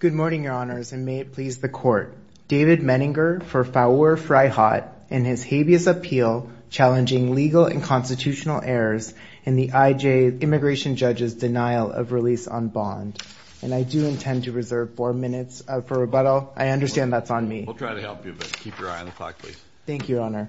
Good morning, Your Honors, and may it please the Court. David Menninger for Faour Fraihat in his habeas appeal challenging legal and constitutional errors in the I.J. immigration judge's denial of release on bond. And I do intend to reserve four minutes for rebuttal. I understand that's on me. We'll try to help you, but keep your eye on the clock, please. Thank you, Your Honor.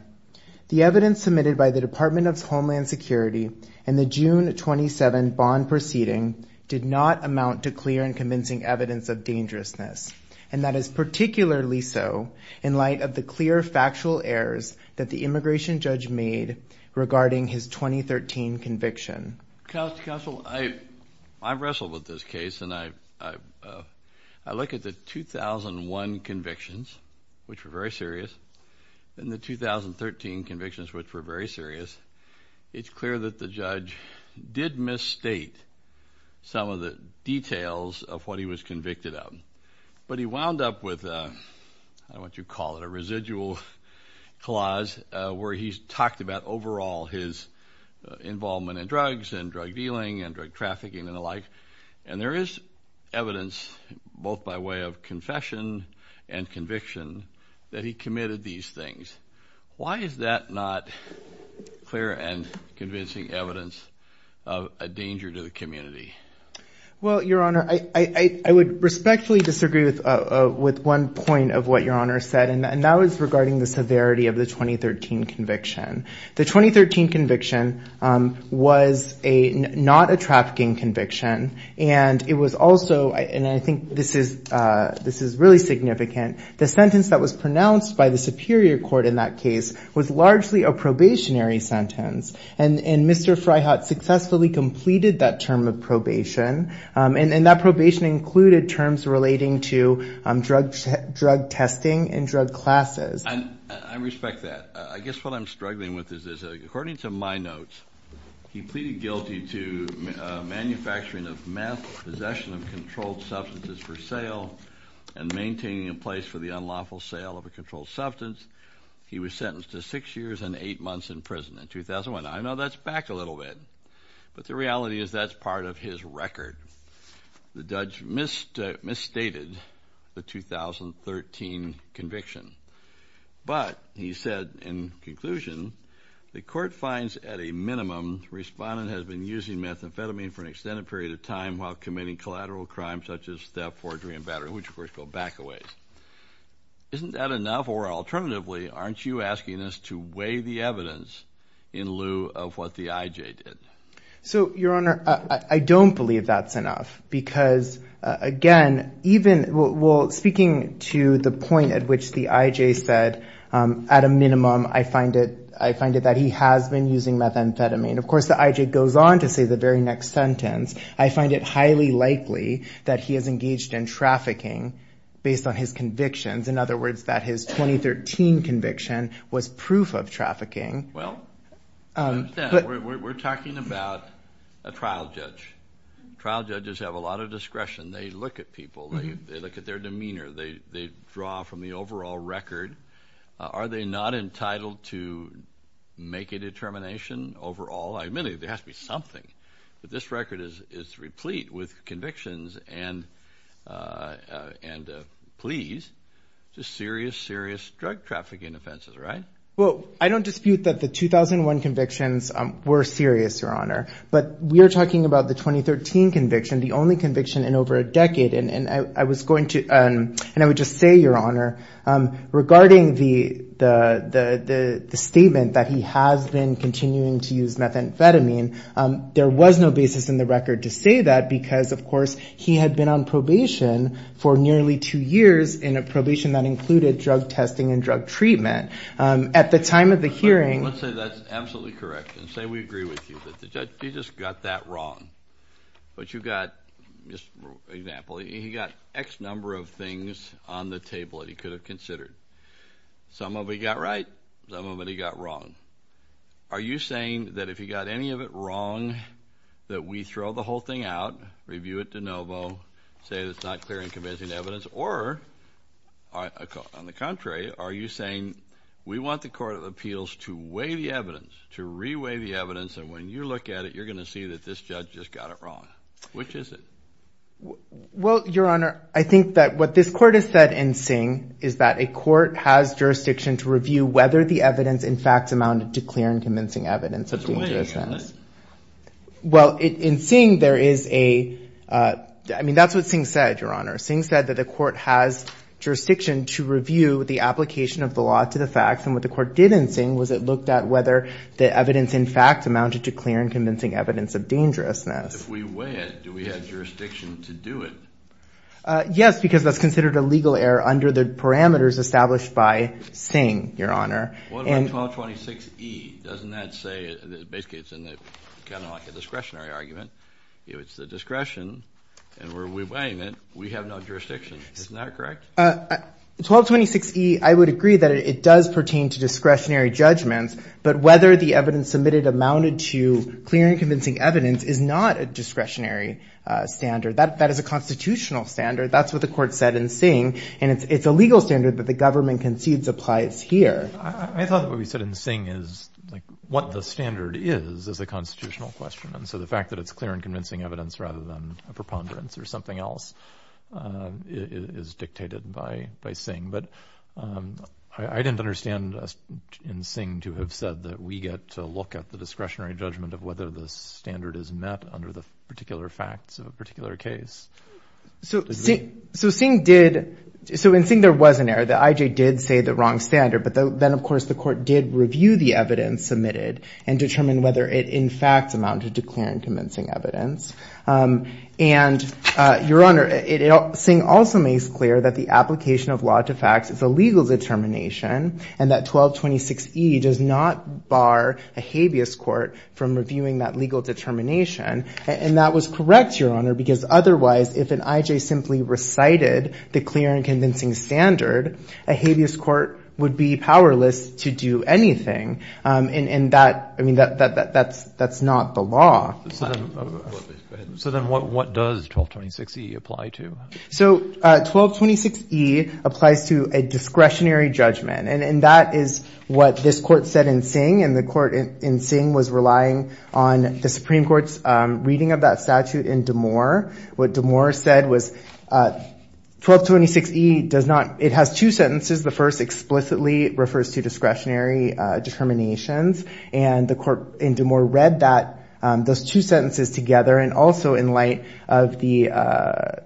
The evidence submitted by the Department of Homeland Security in the June 27 bond proceeding did not amount to clear and convincing evidence of dangerousness, and that is particularly so in light of the clear factual errors that the immigration judge made regarding his 2013 conviction. Counsel, I wrestled with this case, and I look at the 2001 convictions, which were very serious, and the 2013 convictions, which were very serious, it's clear that the judge did misstate some of the details of what he was convicted of. But he wound up with, I don't know what you'd call it, a residual clause where he's talked about overall his involvement in drugs and drug dealing and drug trafficking and the like. And there is evidence, both by way of confession and conviction, that he committed these things. Why is that not clear and convincing evidence of a danger to the community? Well, Your Honor, I would respectfully disagree with one point of what Your Honor said, and that was regarding the severity of the 2013 conviction. The 2013 conviction was not a trafficking conviction, and it was also, and I think this is really significant, the sentence that was pronounced by the Superior Court in that case was largely a probationary sentence. And Mr. Fryhat successfully completed that term of probation, and that probation included terms relating to drug testing and drug classes. I respect that. I guess what I'm struggling with is, according to my notes, he pleaded guilty to manufacturing of meth, possession of controlled substances for sale, and maintaining a place for the unlawful sale of a controlled substance. He was sentenced to six years and eight months in prison in 2001. Now, I know that's back a little bit, but the reality is that's part of his record. The judge misstated the 2013 conviction. But, he said in conclusion, the court finds at a minimum, the respondent has been using methamphetamine for an extended period of time while committing collateral crimes such as theft, forgery, and battery, which of course go back a ways. Isn't that enough, or alternatively, aren't you asking us to weigh the evidence in lieu of what the IJ did? So Your Honor, I don't believe that's enough, because again, even, well, speaking to the IJ, I find it that he has been using methamphetamine. Of course, the IJ goes on to say the very next sentence. I find it highly likely that he has engaged in trafficking based on his convictions. In other words, that his 2013 conviction was proof of trafficking. Well, we're talking about a trial judge. Trial judges have a lot of discretion. They look at people. They look at their demeanor. They draw from the overall record. Are they not entitled to make a determination overall? I admit it, there has to be something. But this record is replete with convictions and pleas to serious, serious drug trafficking offenses, right? Well, I don't dispute that the 2001 convictions were serious, Your Honor. But we are talking about the 2013 conviction, the only conviction in over a decade. And I was going to, and the statement that he has been continuing to use methamphetamine, there was no basis in the record to say that, because, of course, he had been on probation for nearly two years in a probation that included drug testing and drug treatment. At the time of the hearing- Let's say that's absolutely correct. And say we agree with you, that the judge, he just got that wrong. But you got, just for example, he got X number of things on the table that he could have considered. Some of it he got right, some of it he got wrong. Are you saying that if he got any of it wrong, that we throw the whole thing out, review it de novo, say that it's not clear and convincing evidence? Or, on the contrary, are you saying we want the Court of Appeals to weigh the evidence, to re-weigh the evidence, and when you look at it, you're going to see that this judge just got it wrong. Which is it? Well, Your Honor, I think that what this Court has said in Singh is that a court has jurisdiction to review whether the evidence, in fact, amounted to clear and convincing evidence of dangerousness. That's a way to go, isn't it? Well, in Singh, there is a, I mean, that's what Singh said, Your Honor. Singh said that the court has jurisdiction to review the application of the law to the facts. And what the court did in Singh was it looked at whether the evidence, in fact, amounted to clear and convincing evidence of dangerousness. But if we weigh it, do we have jurisdiction to do it? Yes, because that's considered a legal error under the parameters established by Singh, Your Honor. What about 1226E? Doesn't that say, basically, it's kind of like a discretionary argument. If it's the discretion, and we're re-weighing it, we have no jurisdiction. Isn't that correct? 1226E, I would agree that it does pertain to discretionary judgments, but whether the discretionary standard, that is a constitutional standard. That's what the court said in Singh. And it's a legal standard that the government concedes applies here. I thought that what we said in Singh is, like, what the standard is, is a constitutional question. And so the fact that it's clear and convincing evidence rather than a preponderance or something else is dictated by Singh. But I didn't understand in Singh to have said that we get to look at the discretionary judgment of whether the standard is met under the particular facts of a particular case. So, in Singh, there was an error. The IJ did say the wrong standard, but then, of course, the court did review the evidence submitted and determine whether it, in fact, amounted to clear and convincing evidence. And, Your Honor, Singh also makes clear that the application of law to facts is a legal determination and that 1226E does not bar a habeas court from that. And that was correct, Your Honor, because otherwise, if an IJ simply recited the clear and convincing standard, a habeas court would be powerless to do anything. And that, I mean, that's not the law. So then what does 1226E apply to? So 1226E applies to a discretionary judgment. And that is what this court said in Singh. And the court in Singh was relying on the Supreme Court's reading of that statute in Damore. What Damore said was 1226E does not, it has two sentences. The first explicitly refers to discretionary determinations. And the court in Damore read that, those two sentences together. And also in light of the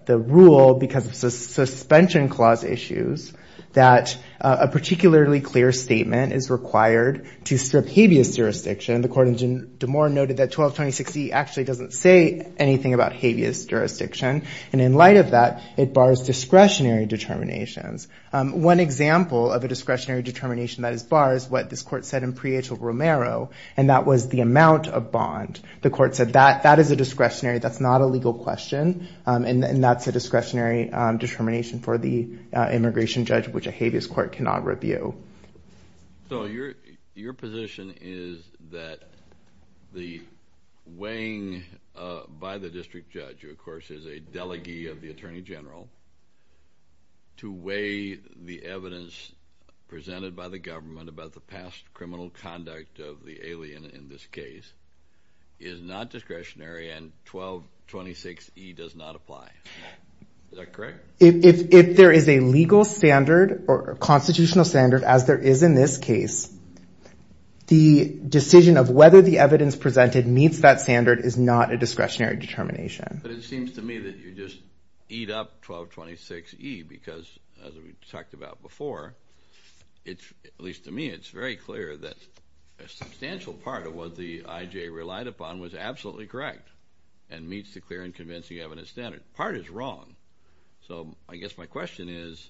rule, because of suspension clause issues, that a particularly clear statement is required to strip habeas jurisdiction. The court in Damore noted that 1226E actually doesn't say anything about habeas jurisdiction. And in light of that, it bars discretionary determinations. One example of a discretionary determination that is barred is what this court said in Prieto-Romero. And that was the amount of bond. The court said that is a discretionary, that's not a legal question. And that's a discretionary determination for the immigration judge, which a habeas court cannot review. So your position is that the weighing by the district judge, who of course is a delegee of the Attorney General, to weigh the evidence presented by the government about the past criminal conduct of the alien in this case, is not discretionary and 1226E does not apply. Is that correct? If there is a legal standard or constitutional standard, as there is in this case, the decision of whether the evidence presented meets that standard is not a discretionary determination. But it seems to me that you just eat up 1226E, because as we talked about before, at least to me, it's very clear that a substantial part of what the IJ relied upon was absolutely correct and meets the clear and convincing evidence standard. That part is wrong. So I guess my question is,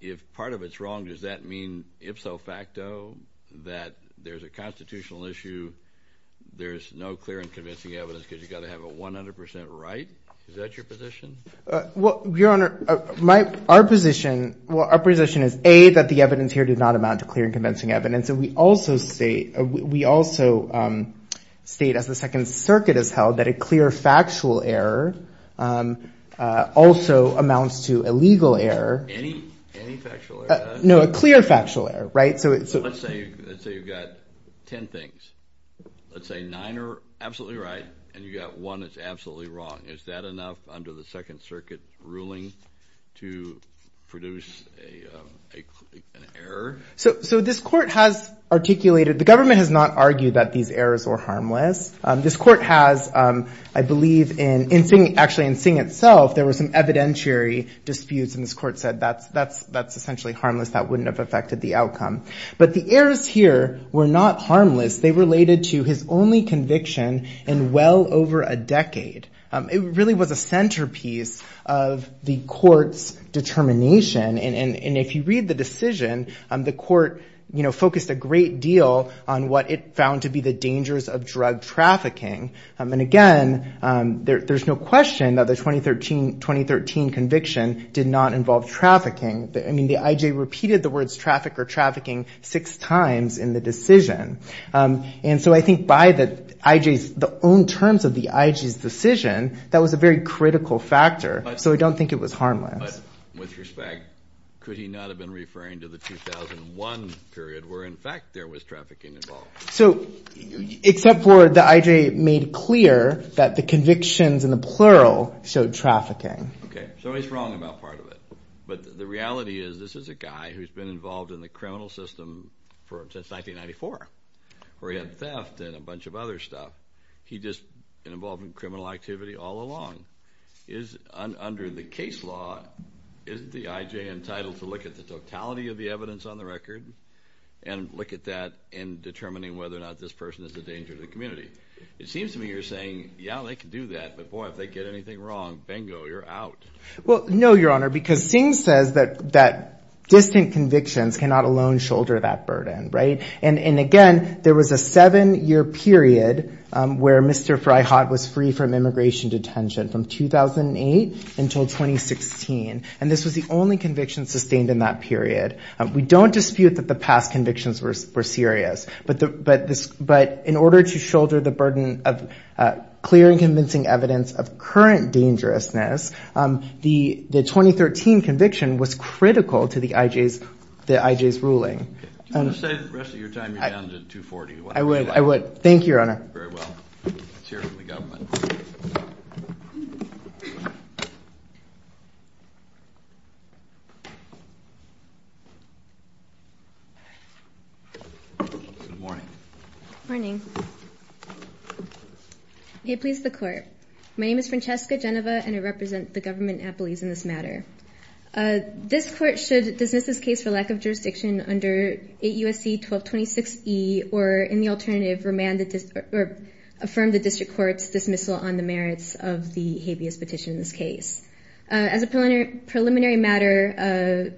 if part of it's wrong, does that mean ipso facto, that there's a constitutional issue, there's no clear and convincing evidence because you've got to have a 100% right? Is that your position? Well, Your Honor, our position is A, that the evidence here did not amount to clear and convincing evidence. And we also state, as the Second Circuit has held, that a clear factual error also amounts to a legal error. Any factual error? No, a clear factual error, right? So let's say you've got 10 things. Let's say nine are absolutely right and you've got one that's absolutely wrong. Is that enough under the Second Circuit ruling to produce an error? So this court has articulated, the government has not argued that these errors are harmless. This court has, I believe, actually in Singh itself, there were some evidentiary disputes and this court said that's essentially harmless, that wouldn't have affected the outcome. But the errors here were not harmless. They related to his only conviction in well over a decade. It really was a centerpiece of the court's determination. And if you read the 2013 conviction, it did not involve trafficking. And again, there's no question that the 2013 conviction did not involve trafficking. I mean, the I.J. repeated the words traffic or trafficking six times in the decision. And so I think by the I.J.'s, the own terms of the I.J.'s decision, that was a very critical factor. So I don't think it was harmless. But with respect, could he not have been referring to the 2001 period where in fact there was trafficking involved? So, except for the I.J. made clear that the convictions in the plural showed trafficking. Okay. So he's wrong about part of it. But the reality is, this is a guy who's been involved in the criminal system since 1994, where he had theft and a bunch of other stuff. He just been involved in criminal activity all along. Under the case law, isn't the I.J. entitled to look at the totality of the evidence on the record and look at that in determining whether or not this person is a danger to the community? It seems to me you're saying, yeah, they can do that. But boy, if they get anything wrong, bingo, you're out. Well, no, your honor, because Singh says that distant convictions cannot alone shoulder that burden. Right. And again, there was a seven year period where Mr. Freyhot was free from immigration detention from 2008 until 2016. And this was the only conviction sustained in that period. We don't dispute that the past convictions were serious, but in order to shoulder the burden of clear and convincing evidence of current dangerousness, the 2013 conviction was critical to the I.J.'s ruling. Do you want to say the rest of your time you're down to 240? Very well. Let's hear it from the government. Good morning. Good morning. May it please the court. My name is Francesca Genova, and I represent the government at Belize in this matter. This court should dismiss this case for lack of a better word. Affirm the district court's dismissal on the merits of the habeas petition in this case. As a preliminary matter,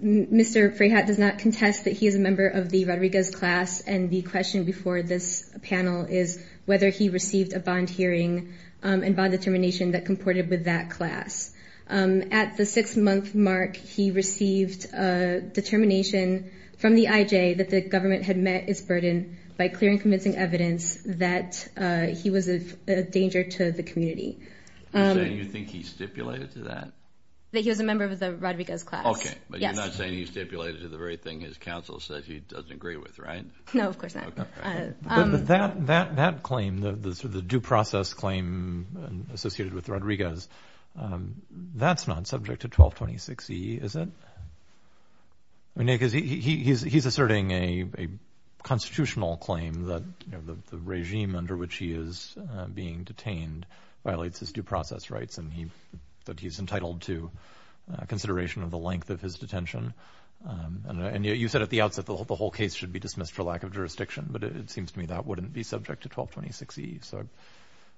Mr. Freyhot does not contest that he is a member of the Rodriguez class. And the question before this panel is whether he received a bond hearing and bond determination that comported with that class. At the six month mark, he received a determination from the I.J. that the government had met its burden by clear and convincing evidence that he was a danger to the community. You're saying you think he stipulated to that? That he was a member of the Rodriguez class. Okay, but you're not saying he stipulated to the very thing his counsel said he doesn't agree with, right? No, of course not. But that claim, the due process claim associated with Rodriguez, that's not subject to 1226E, is it? He's asserting a constitutional claim that the regime under which he is being detained violates his due process rights and that he's entitled to consideration of the length of his detention. And you said at the outset the whole case should be dismissed for lack of jurisdiction, but it seems to me that wouldn't be subject to 1226E.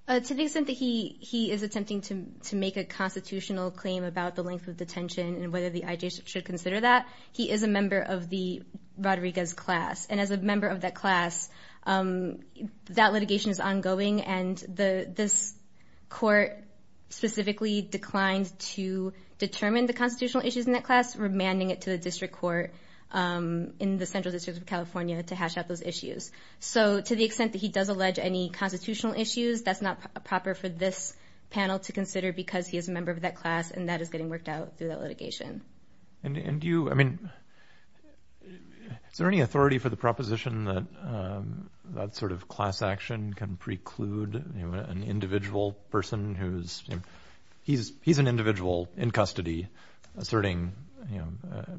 To the extent that he is attempting to make a constitutional claim about the length of detention, the IJ should consider that, he is a member of the Rodriguez class. And as a member of that class, that litigation is ongoing and this court specifically declined to determine the constitutional issues in that class, remanding it to the district court in the Central District of California to hash out those issues. So to the extent that he does allege any constitutional issues, that's not proper for this panel to consider because he is a member of that class and that is getting worked out through that litigation. And do you, I mean, is there any authority for the proposition that that sort of class action can preclude an individual person who's, he's an individual in custody asserting,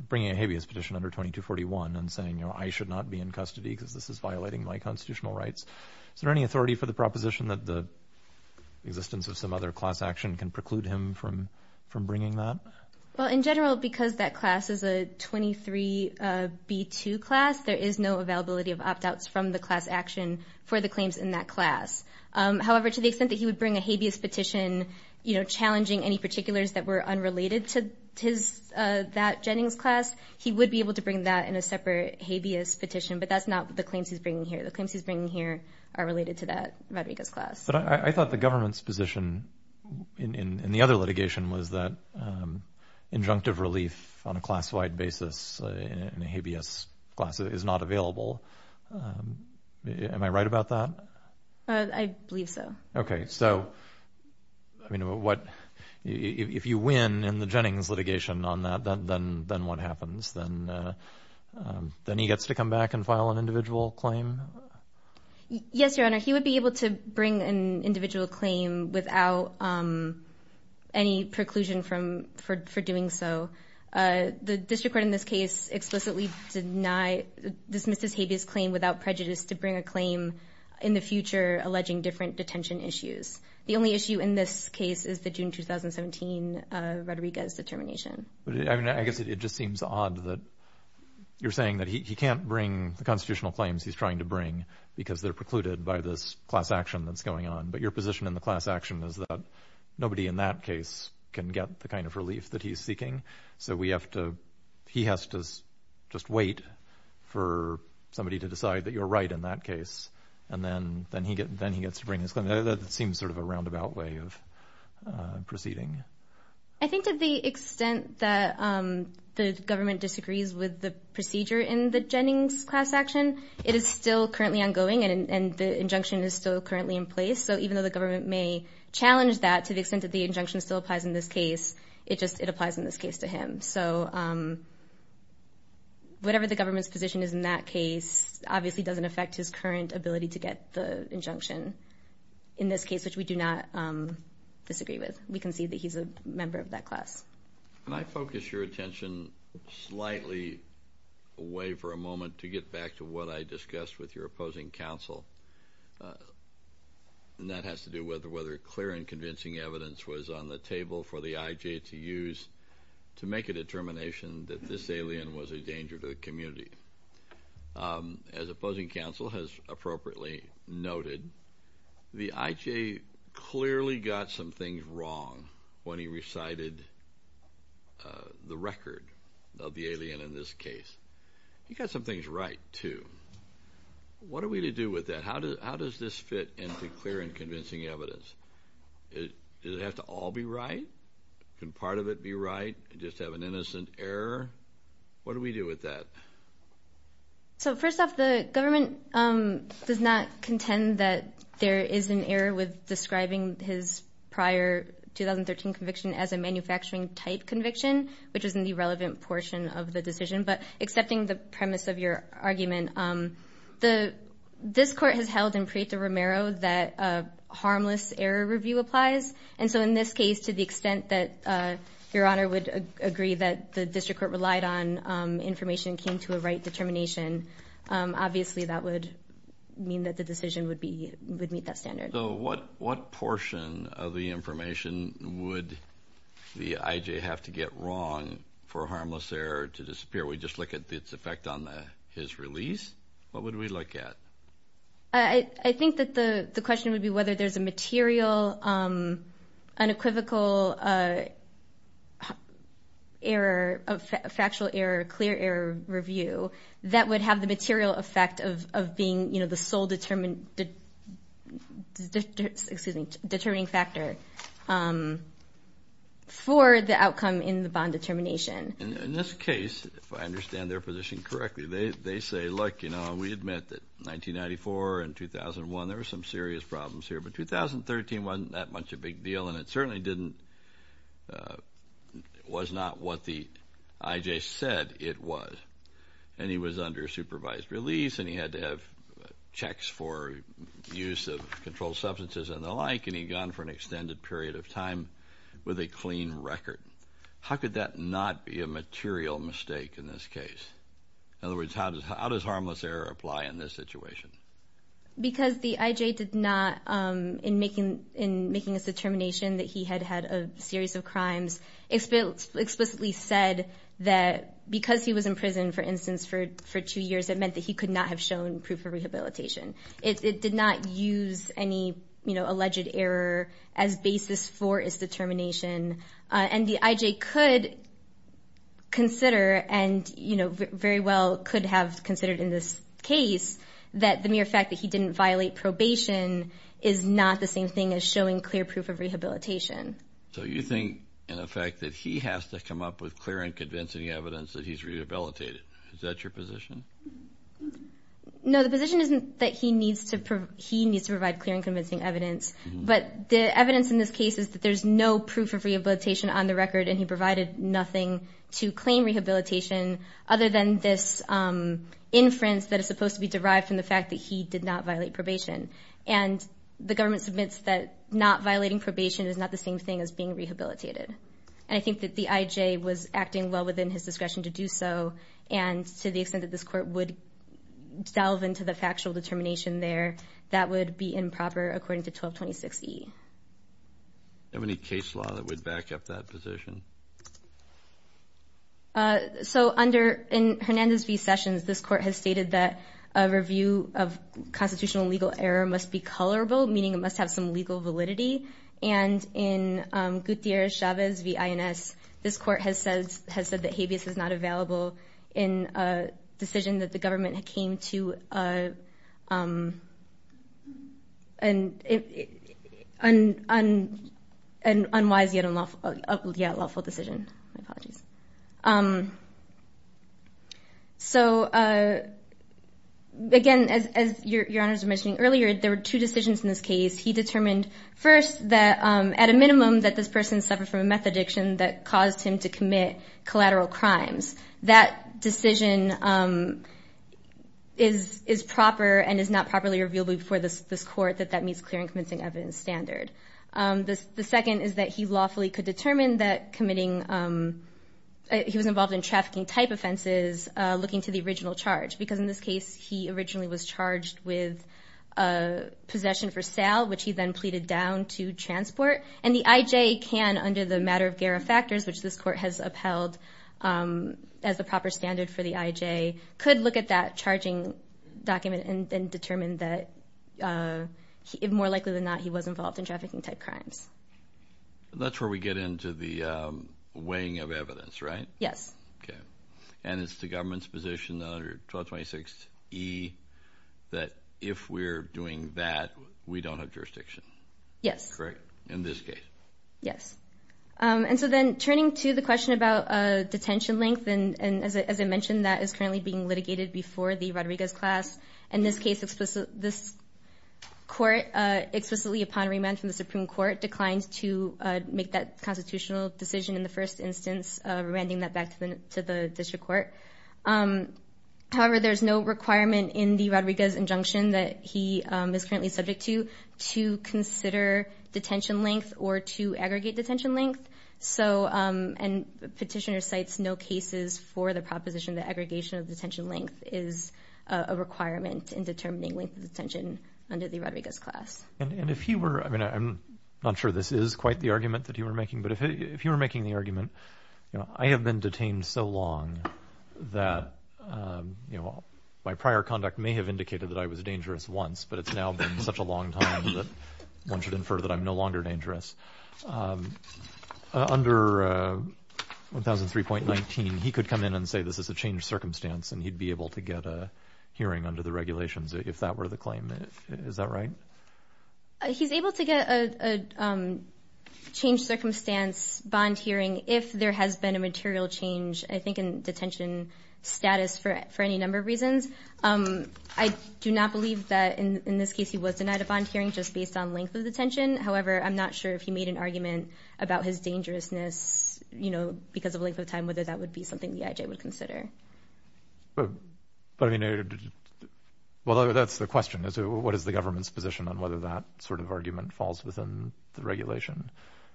bringing a habeas petition under 2241 and saying, you know, I should not be in custody because this is violating my constitutional rights. Is there any authority for the proposition that the existence of some other class action can preclude him from bringing that? Well, in general, because that class is a 23B2 class, there is no availability of opt-outs from the class action for the claims in that class. However, to the extent that he would bring a habeas petition, you know, challenging any particulars that were unrelated to his, that Jennings class, he would be able to bring that in a separate habeas petition. But that's not the claims he's bringing here. The claims he's bringing here are related to that Rodriguez class. But I thought the government's position in the other litigation was that injunctive relief on a class-wide basis in a habeas class is not available. Am I right about that? I believe so. Okay. So, I mean, what, if you win in the Jennings litigation on that, then what happens? Then he gets to come back and file an individual claim? Yes, Your Honor. He would be able to bring an individual claim without any preclusion from, for doing so. The district court in this case explicitly denied, dismissed his habeas claim without prejudice to bring a claim in the future alleging different detention issues. The only issue in this case is the June 2017 Rodriguez determination. I mean, I guess it just seems odd that you're saying that he can't bring the constitutional claims he's trying to bring because they're precluded by this class action that's going on. But your position in the class action is that nobody in that case can get the kind of relief that he's seeking. So we have to, he has to just wait for somebody to decide that you're right in that case. And then he gets to bring his claim. That seems sort of a roundabout way of proceeding. I think to the extent that the government disagrees with the procedure in the Jennings class action, it is still currently ongoing and the injunction is still currently in place. So even though the government may challenge that to the extent that the injunction still applies in this case, it just, it applies in this case to him. So whatever the government's position is in that case, obviously doesn't affect his current ability to get the injunction in this case, which we do not disagree with. We concede that he's a member of that class. Can I focus your attention slightly away for a moment to get back to what I discussed with your opposing counsel? And that has to do with whether clear and convincing evidence was on the table for the IJ to use to make a determination that this alien was a danger to the community. As opposing counsel has appropriately noted, the IJ clearly got some things wrong when he recited the record of the alien in this case. He got some things right, too. What are we to do with that? How does this fit into clear and convincing evidence? Does it have to all be right? Can part of it be right and just have an innocent error? What do we do with that? So first off, the government does not contend that there is an error with describing his prior 2013 conviction as a manufacturing-type conviction, which is an irrelevant portion of the decision. But accepting the premise of your argument, this Court has held in Prieto-Romero that a harmless error review applies. And so in this case, to the extent that Your Honor would agree that the district court relied on information and came to a right determination, obviously that would mean that the decision would meet that standard. So what portion of the information would the IJ have to get wrong for a harmless error to disappear? We just look at its effect on his release? What would we look at? I think that the question would be whether there's a material, unequivocal error, a factual error, clear error review that would have the material effect of being, you know, the sole determined... excuse me, determining factor for the outcome in the bond determination. In this case, if I understand their position correctly, they say, look, you know, we admit that 1994 and 2001, there were some serious problems here, but 2013 wasn't that much a big deal and it certainly didn't... was not what the IJ said it was. And he was under supervised release and he had to have checks for use of controlled substances and the like, and he'd gone for an extended period of time with a clean record. How could that not be a material mistake in this case? In other words, how does harmless error apply in this situation? Because the IJ did not... in making his determination that he had had a series of crimes, explicitly said that because he was in prison, for instance, for two years, it meant that he could not have shown proof of rehabilitation. It did not use any, you know, alleged error as basis for his determination. And the IJ could consider and, you know, very well could have considered in this case that the mere fact that he didn't violate probation is not the same thing as showing clear proof of rehabilitation. So you think, in effect, that he has to come up with clear and convincing evidence that he's rehabilitated. Is that your position? No, the position isn't that he needs to provide clear and convincing evidence, but the evidence in this case is that there's no proof of rehabilitation on the record and he provided nothing to claim rehabilitation other than this inference that is supposed to be derived from the fact that he did not violate probation. And the government submits that not violating probation is not the same thing as being rehabilitated. And I think that the IJ was acting well within his discretion to do so, and to the extent that this court would delve into the factual determination there, that would be improper according to 1226E. Do you have any case law that would back up that position? So under... in Hernandez v. Sessions, this court has stated that a review of constitutional legal error must be colorable, meaning it must have some legal validity. And in Gutierrez-Chavez v. INS, this court has said that habeas is not available in a decision that the government had came to, um... and... and unwise yet unlawful... yeah, unlawful decision. My apologies. Um... So, uh... again, as your honors were mentioning earlier, there were two decisions in this case. He determined first that at a minimum that this person suffered from a meth addiction that caused him to commit collateral crimes. That decision, um... is proper and is not properly revealable before this court that that meets clear and convincing evidence standard. The second is that he lawfully could determine that committing... he was involved in trafficking-type offenses looking to the original charge. Because in this case, he originally was charged with possession for sale, which he then pleaded down to transport. And the I.J. can, under the matter of GARA factors, which this court has upheld as the proper standard for the I.J., could look at that charging document and determine that, uh... more likely than not, he was involved in trafficking-type crimes. That's where we get into the, um... weighing of evidence, right? Yes. Okay. And it's the government's position under 1226E that if we're doing that, we don't have jurisdiction. Yes. Correct? In this case. Um, and so then, turning to the question about, uh, detention length, and as I mentioned, that is currently being litigated before the Rodriguez class. In this case, this court, uh, explicitly upon remand from the Supreme Court, declined to, uh, make that constitutional decision in the first instance, remanding that back to the district court. Um, however, there's no requirement in the Rodriguez injunction that he, um, is currently subject to to consider detention length or to aggregate detention length. So, um, and the petitioner cites no cases for the proposition that aggregation of detention length is a requirement in determining length of detention under the Rodriguez class. And-and if he were... I mean, I'm not sure this is quite the argument that you were making, but if he were making the argument, you know, I have been detained so long that, um, you know, my prior conduct may have indicated that I was dangerous once, but it's now been such a long time that one should infer that I'm no longer dangerous. Um, under, uh, 1003.19, he could come in and say this is a changed circumstance and he'd be able to get a hearing under the regulations if that were the claim. Is that right? Uh, he's able to get a-a, um, changed circumstance bond hearing if there has been a material change, I think, in detention status for-for any number of reasons. Um, I do not believe that in-in this case he was denied a bond hearing just based on length of detention. However, I'm not sure if he made an argument about his dangerousness, you know, because of length of time and whether that would be something the I.J. would consider. But, but I mean, did you... Well, that's the question, is what is the government's position on whether that sort of argument falls within the regulation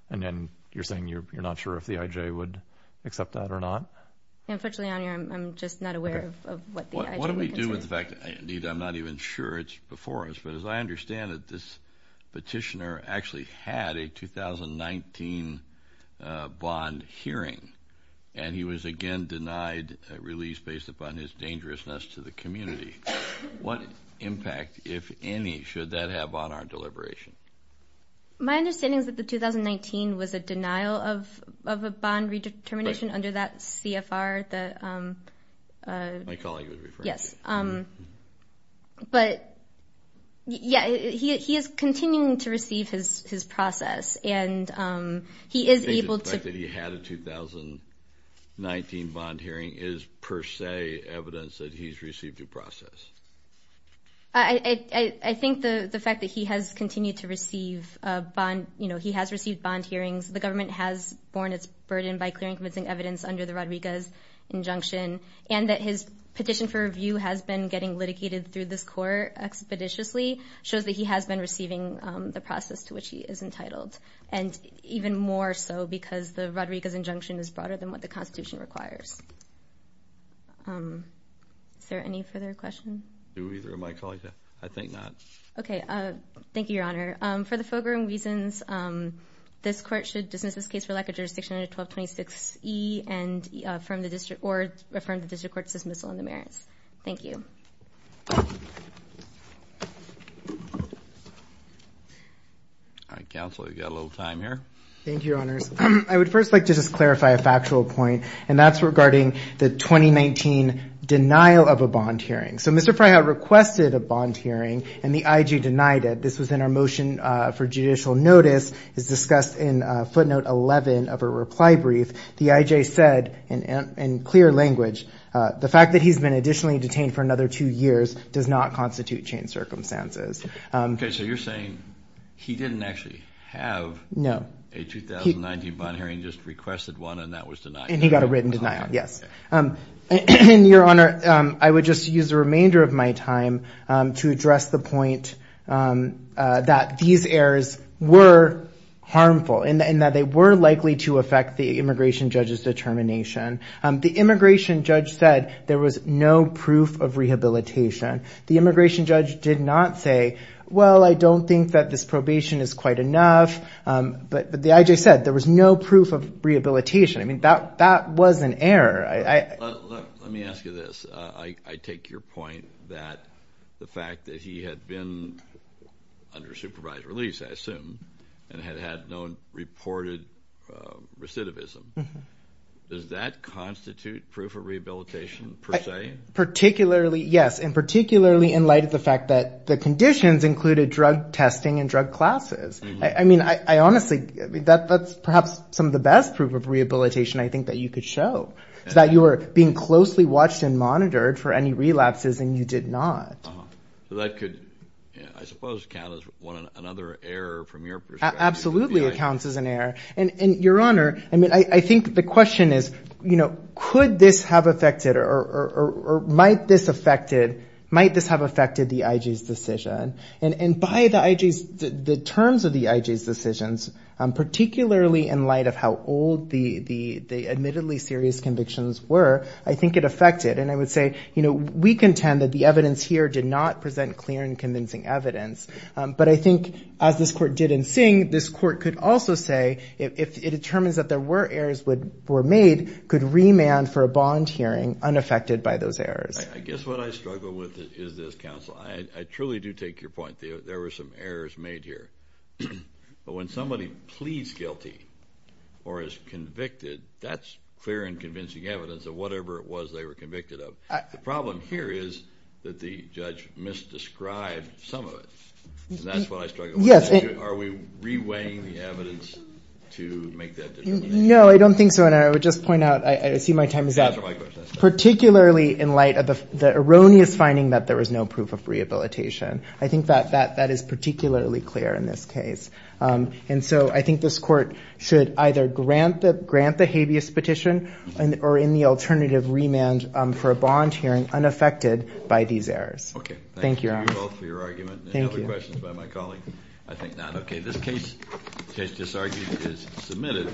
and then you're saying you're-you're not sure if the I.J. would accept that or not? Unfortunately, I'm-I'm just not aware of-of what the I.J. would consider. What do we do with the fact that, indeed, I'm not even sure it's before us, but as I understand that this petitioner actually had a 2019, uh, bond hearing and he was, again, denied release based upon his dangerousness to the community. What impact, if any, should that have on our deliberation? My understanding is that the 2019 was a denial of-of a bond redetermination under that CFR, the, um, uh... My colleague was referring to. Yes, um, but, yeah, he-he is continuing to receive his-his process and, um, he is able to- Do you think the fact that he had a 2019 bond hearing is per se evidence that he's received a process? I-I-I think the-the fact that he has continued to receive a bond, you know, he has received bond hearings. The government has borne its burden by clearing convincing evidence under the Rodriguez injunction and that his petition for review has been getting litigated through this court expeditiously shows that he has been receiving, um, the process to which he is entitled and even more so because the Rodriguez injunction is broader than what the Constitution requires. Um, is there any further question? Do either of my colleagues have? I think not. Okay, uh, thank you, Your Honor. Um, for the following reasons, um, this court should dismiss this case for lack of jurisdiction under 1226E and, uh, affirm the district or affirm the district court's dismissal on the merits. Thank you. All right, Counsel, you got a little time here. Thank you, Your Honors. Um, I would first like to just clarify a factual point and that's regarding the 2019 denial of a bond hearing. So Mr. Freyhout requested a bond hearing and the IG denied it. This was in our motion, uh, for judicial notice is discussed in, uh, footnote 11 of a reply brief. The IJ said in, uh, in clear language, uh, the fact that he's been additionally detained for another two years does not constitute changed circumstances. Okay, so you're saying he didn't actually have a 2019 bond hearing, just requested one and that was denied. And he got a written denial, yes. Um, your Honor, um, I would just use the remainder of my time, um, to address the point, um, uh, that these errors were harmful and that they were likely to affect the immigration judge's determination. Um, the immigration judge said there was no proof of rehabilitation. The immigration judge did not say, well, I don't think that this probation is quite enough, um, but, but the IJ said there was no proof of rehabilitation. I mean, that, that was an error. I, I, let, let me ask you this. Uh, I, I take your point that the fact that he had been under supervised release, I assume, and had had no reported, um, recidivism, does that constitute proof of rehabilitation per se? Particularly, yes, and particularly in light of the fact that the conditions included drug testing and drug classes. I, I mean, I, I honestly, that, that's perhaps some of the best proof of rehabilitation I think that you could show. That you were being closely watched and monitored for any relapses and you did not. Uh-huh. So that could, I suppose, count as one, another error from your perspective. Absolutely it counts as an error. And, and your Honor, I mean, I, I think the question is, you know, could this have affected or, or, or, or might this affected, might this have affected the IG's decision? And, and by the IG's, the, the admittedly serious convictions were, I think it affected and I would say, you know, we contend that the evidence here did not present clear and convincing evidence. Um, but I think as this court did in Singh, this court could also say if, if it determines that there were errors would, were made, could remand for a bond hearing unaffected by those errors. I, I guess what I struggle with is, is this counsel. I, I truly do take your point. There, there were some errors made here. But when somebody pleads guilty or is convicted, that's clear and convincing evidence of whatever it was they were convicted The problem here is that the judge misdescribed some of it. And that's what I struggle with. Yes. Are we reweighing the evidence to make that determination? No, I don't think so. And I would just point out, I see my time is up. Particularly in light of the erroneous finding that there was no proof of rehabilitation. I think that, that is particularly clear in this case. Um, and so I think this court should either grant the, grant the habeas petition or in the alternative remand for a bond hearing unaffected by these errors. Okay. Thank you. Thank you both for your argument. Thank you. Any other questions by my colleague? I think not. Okay. This case, case disargued, is submitted.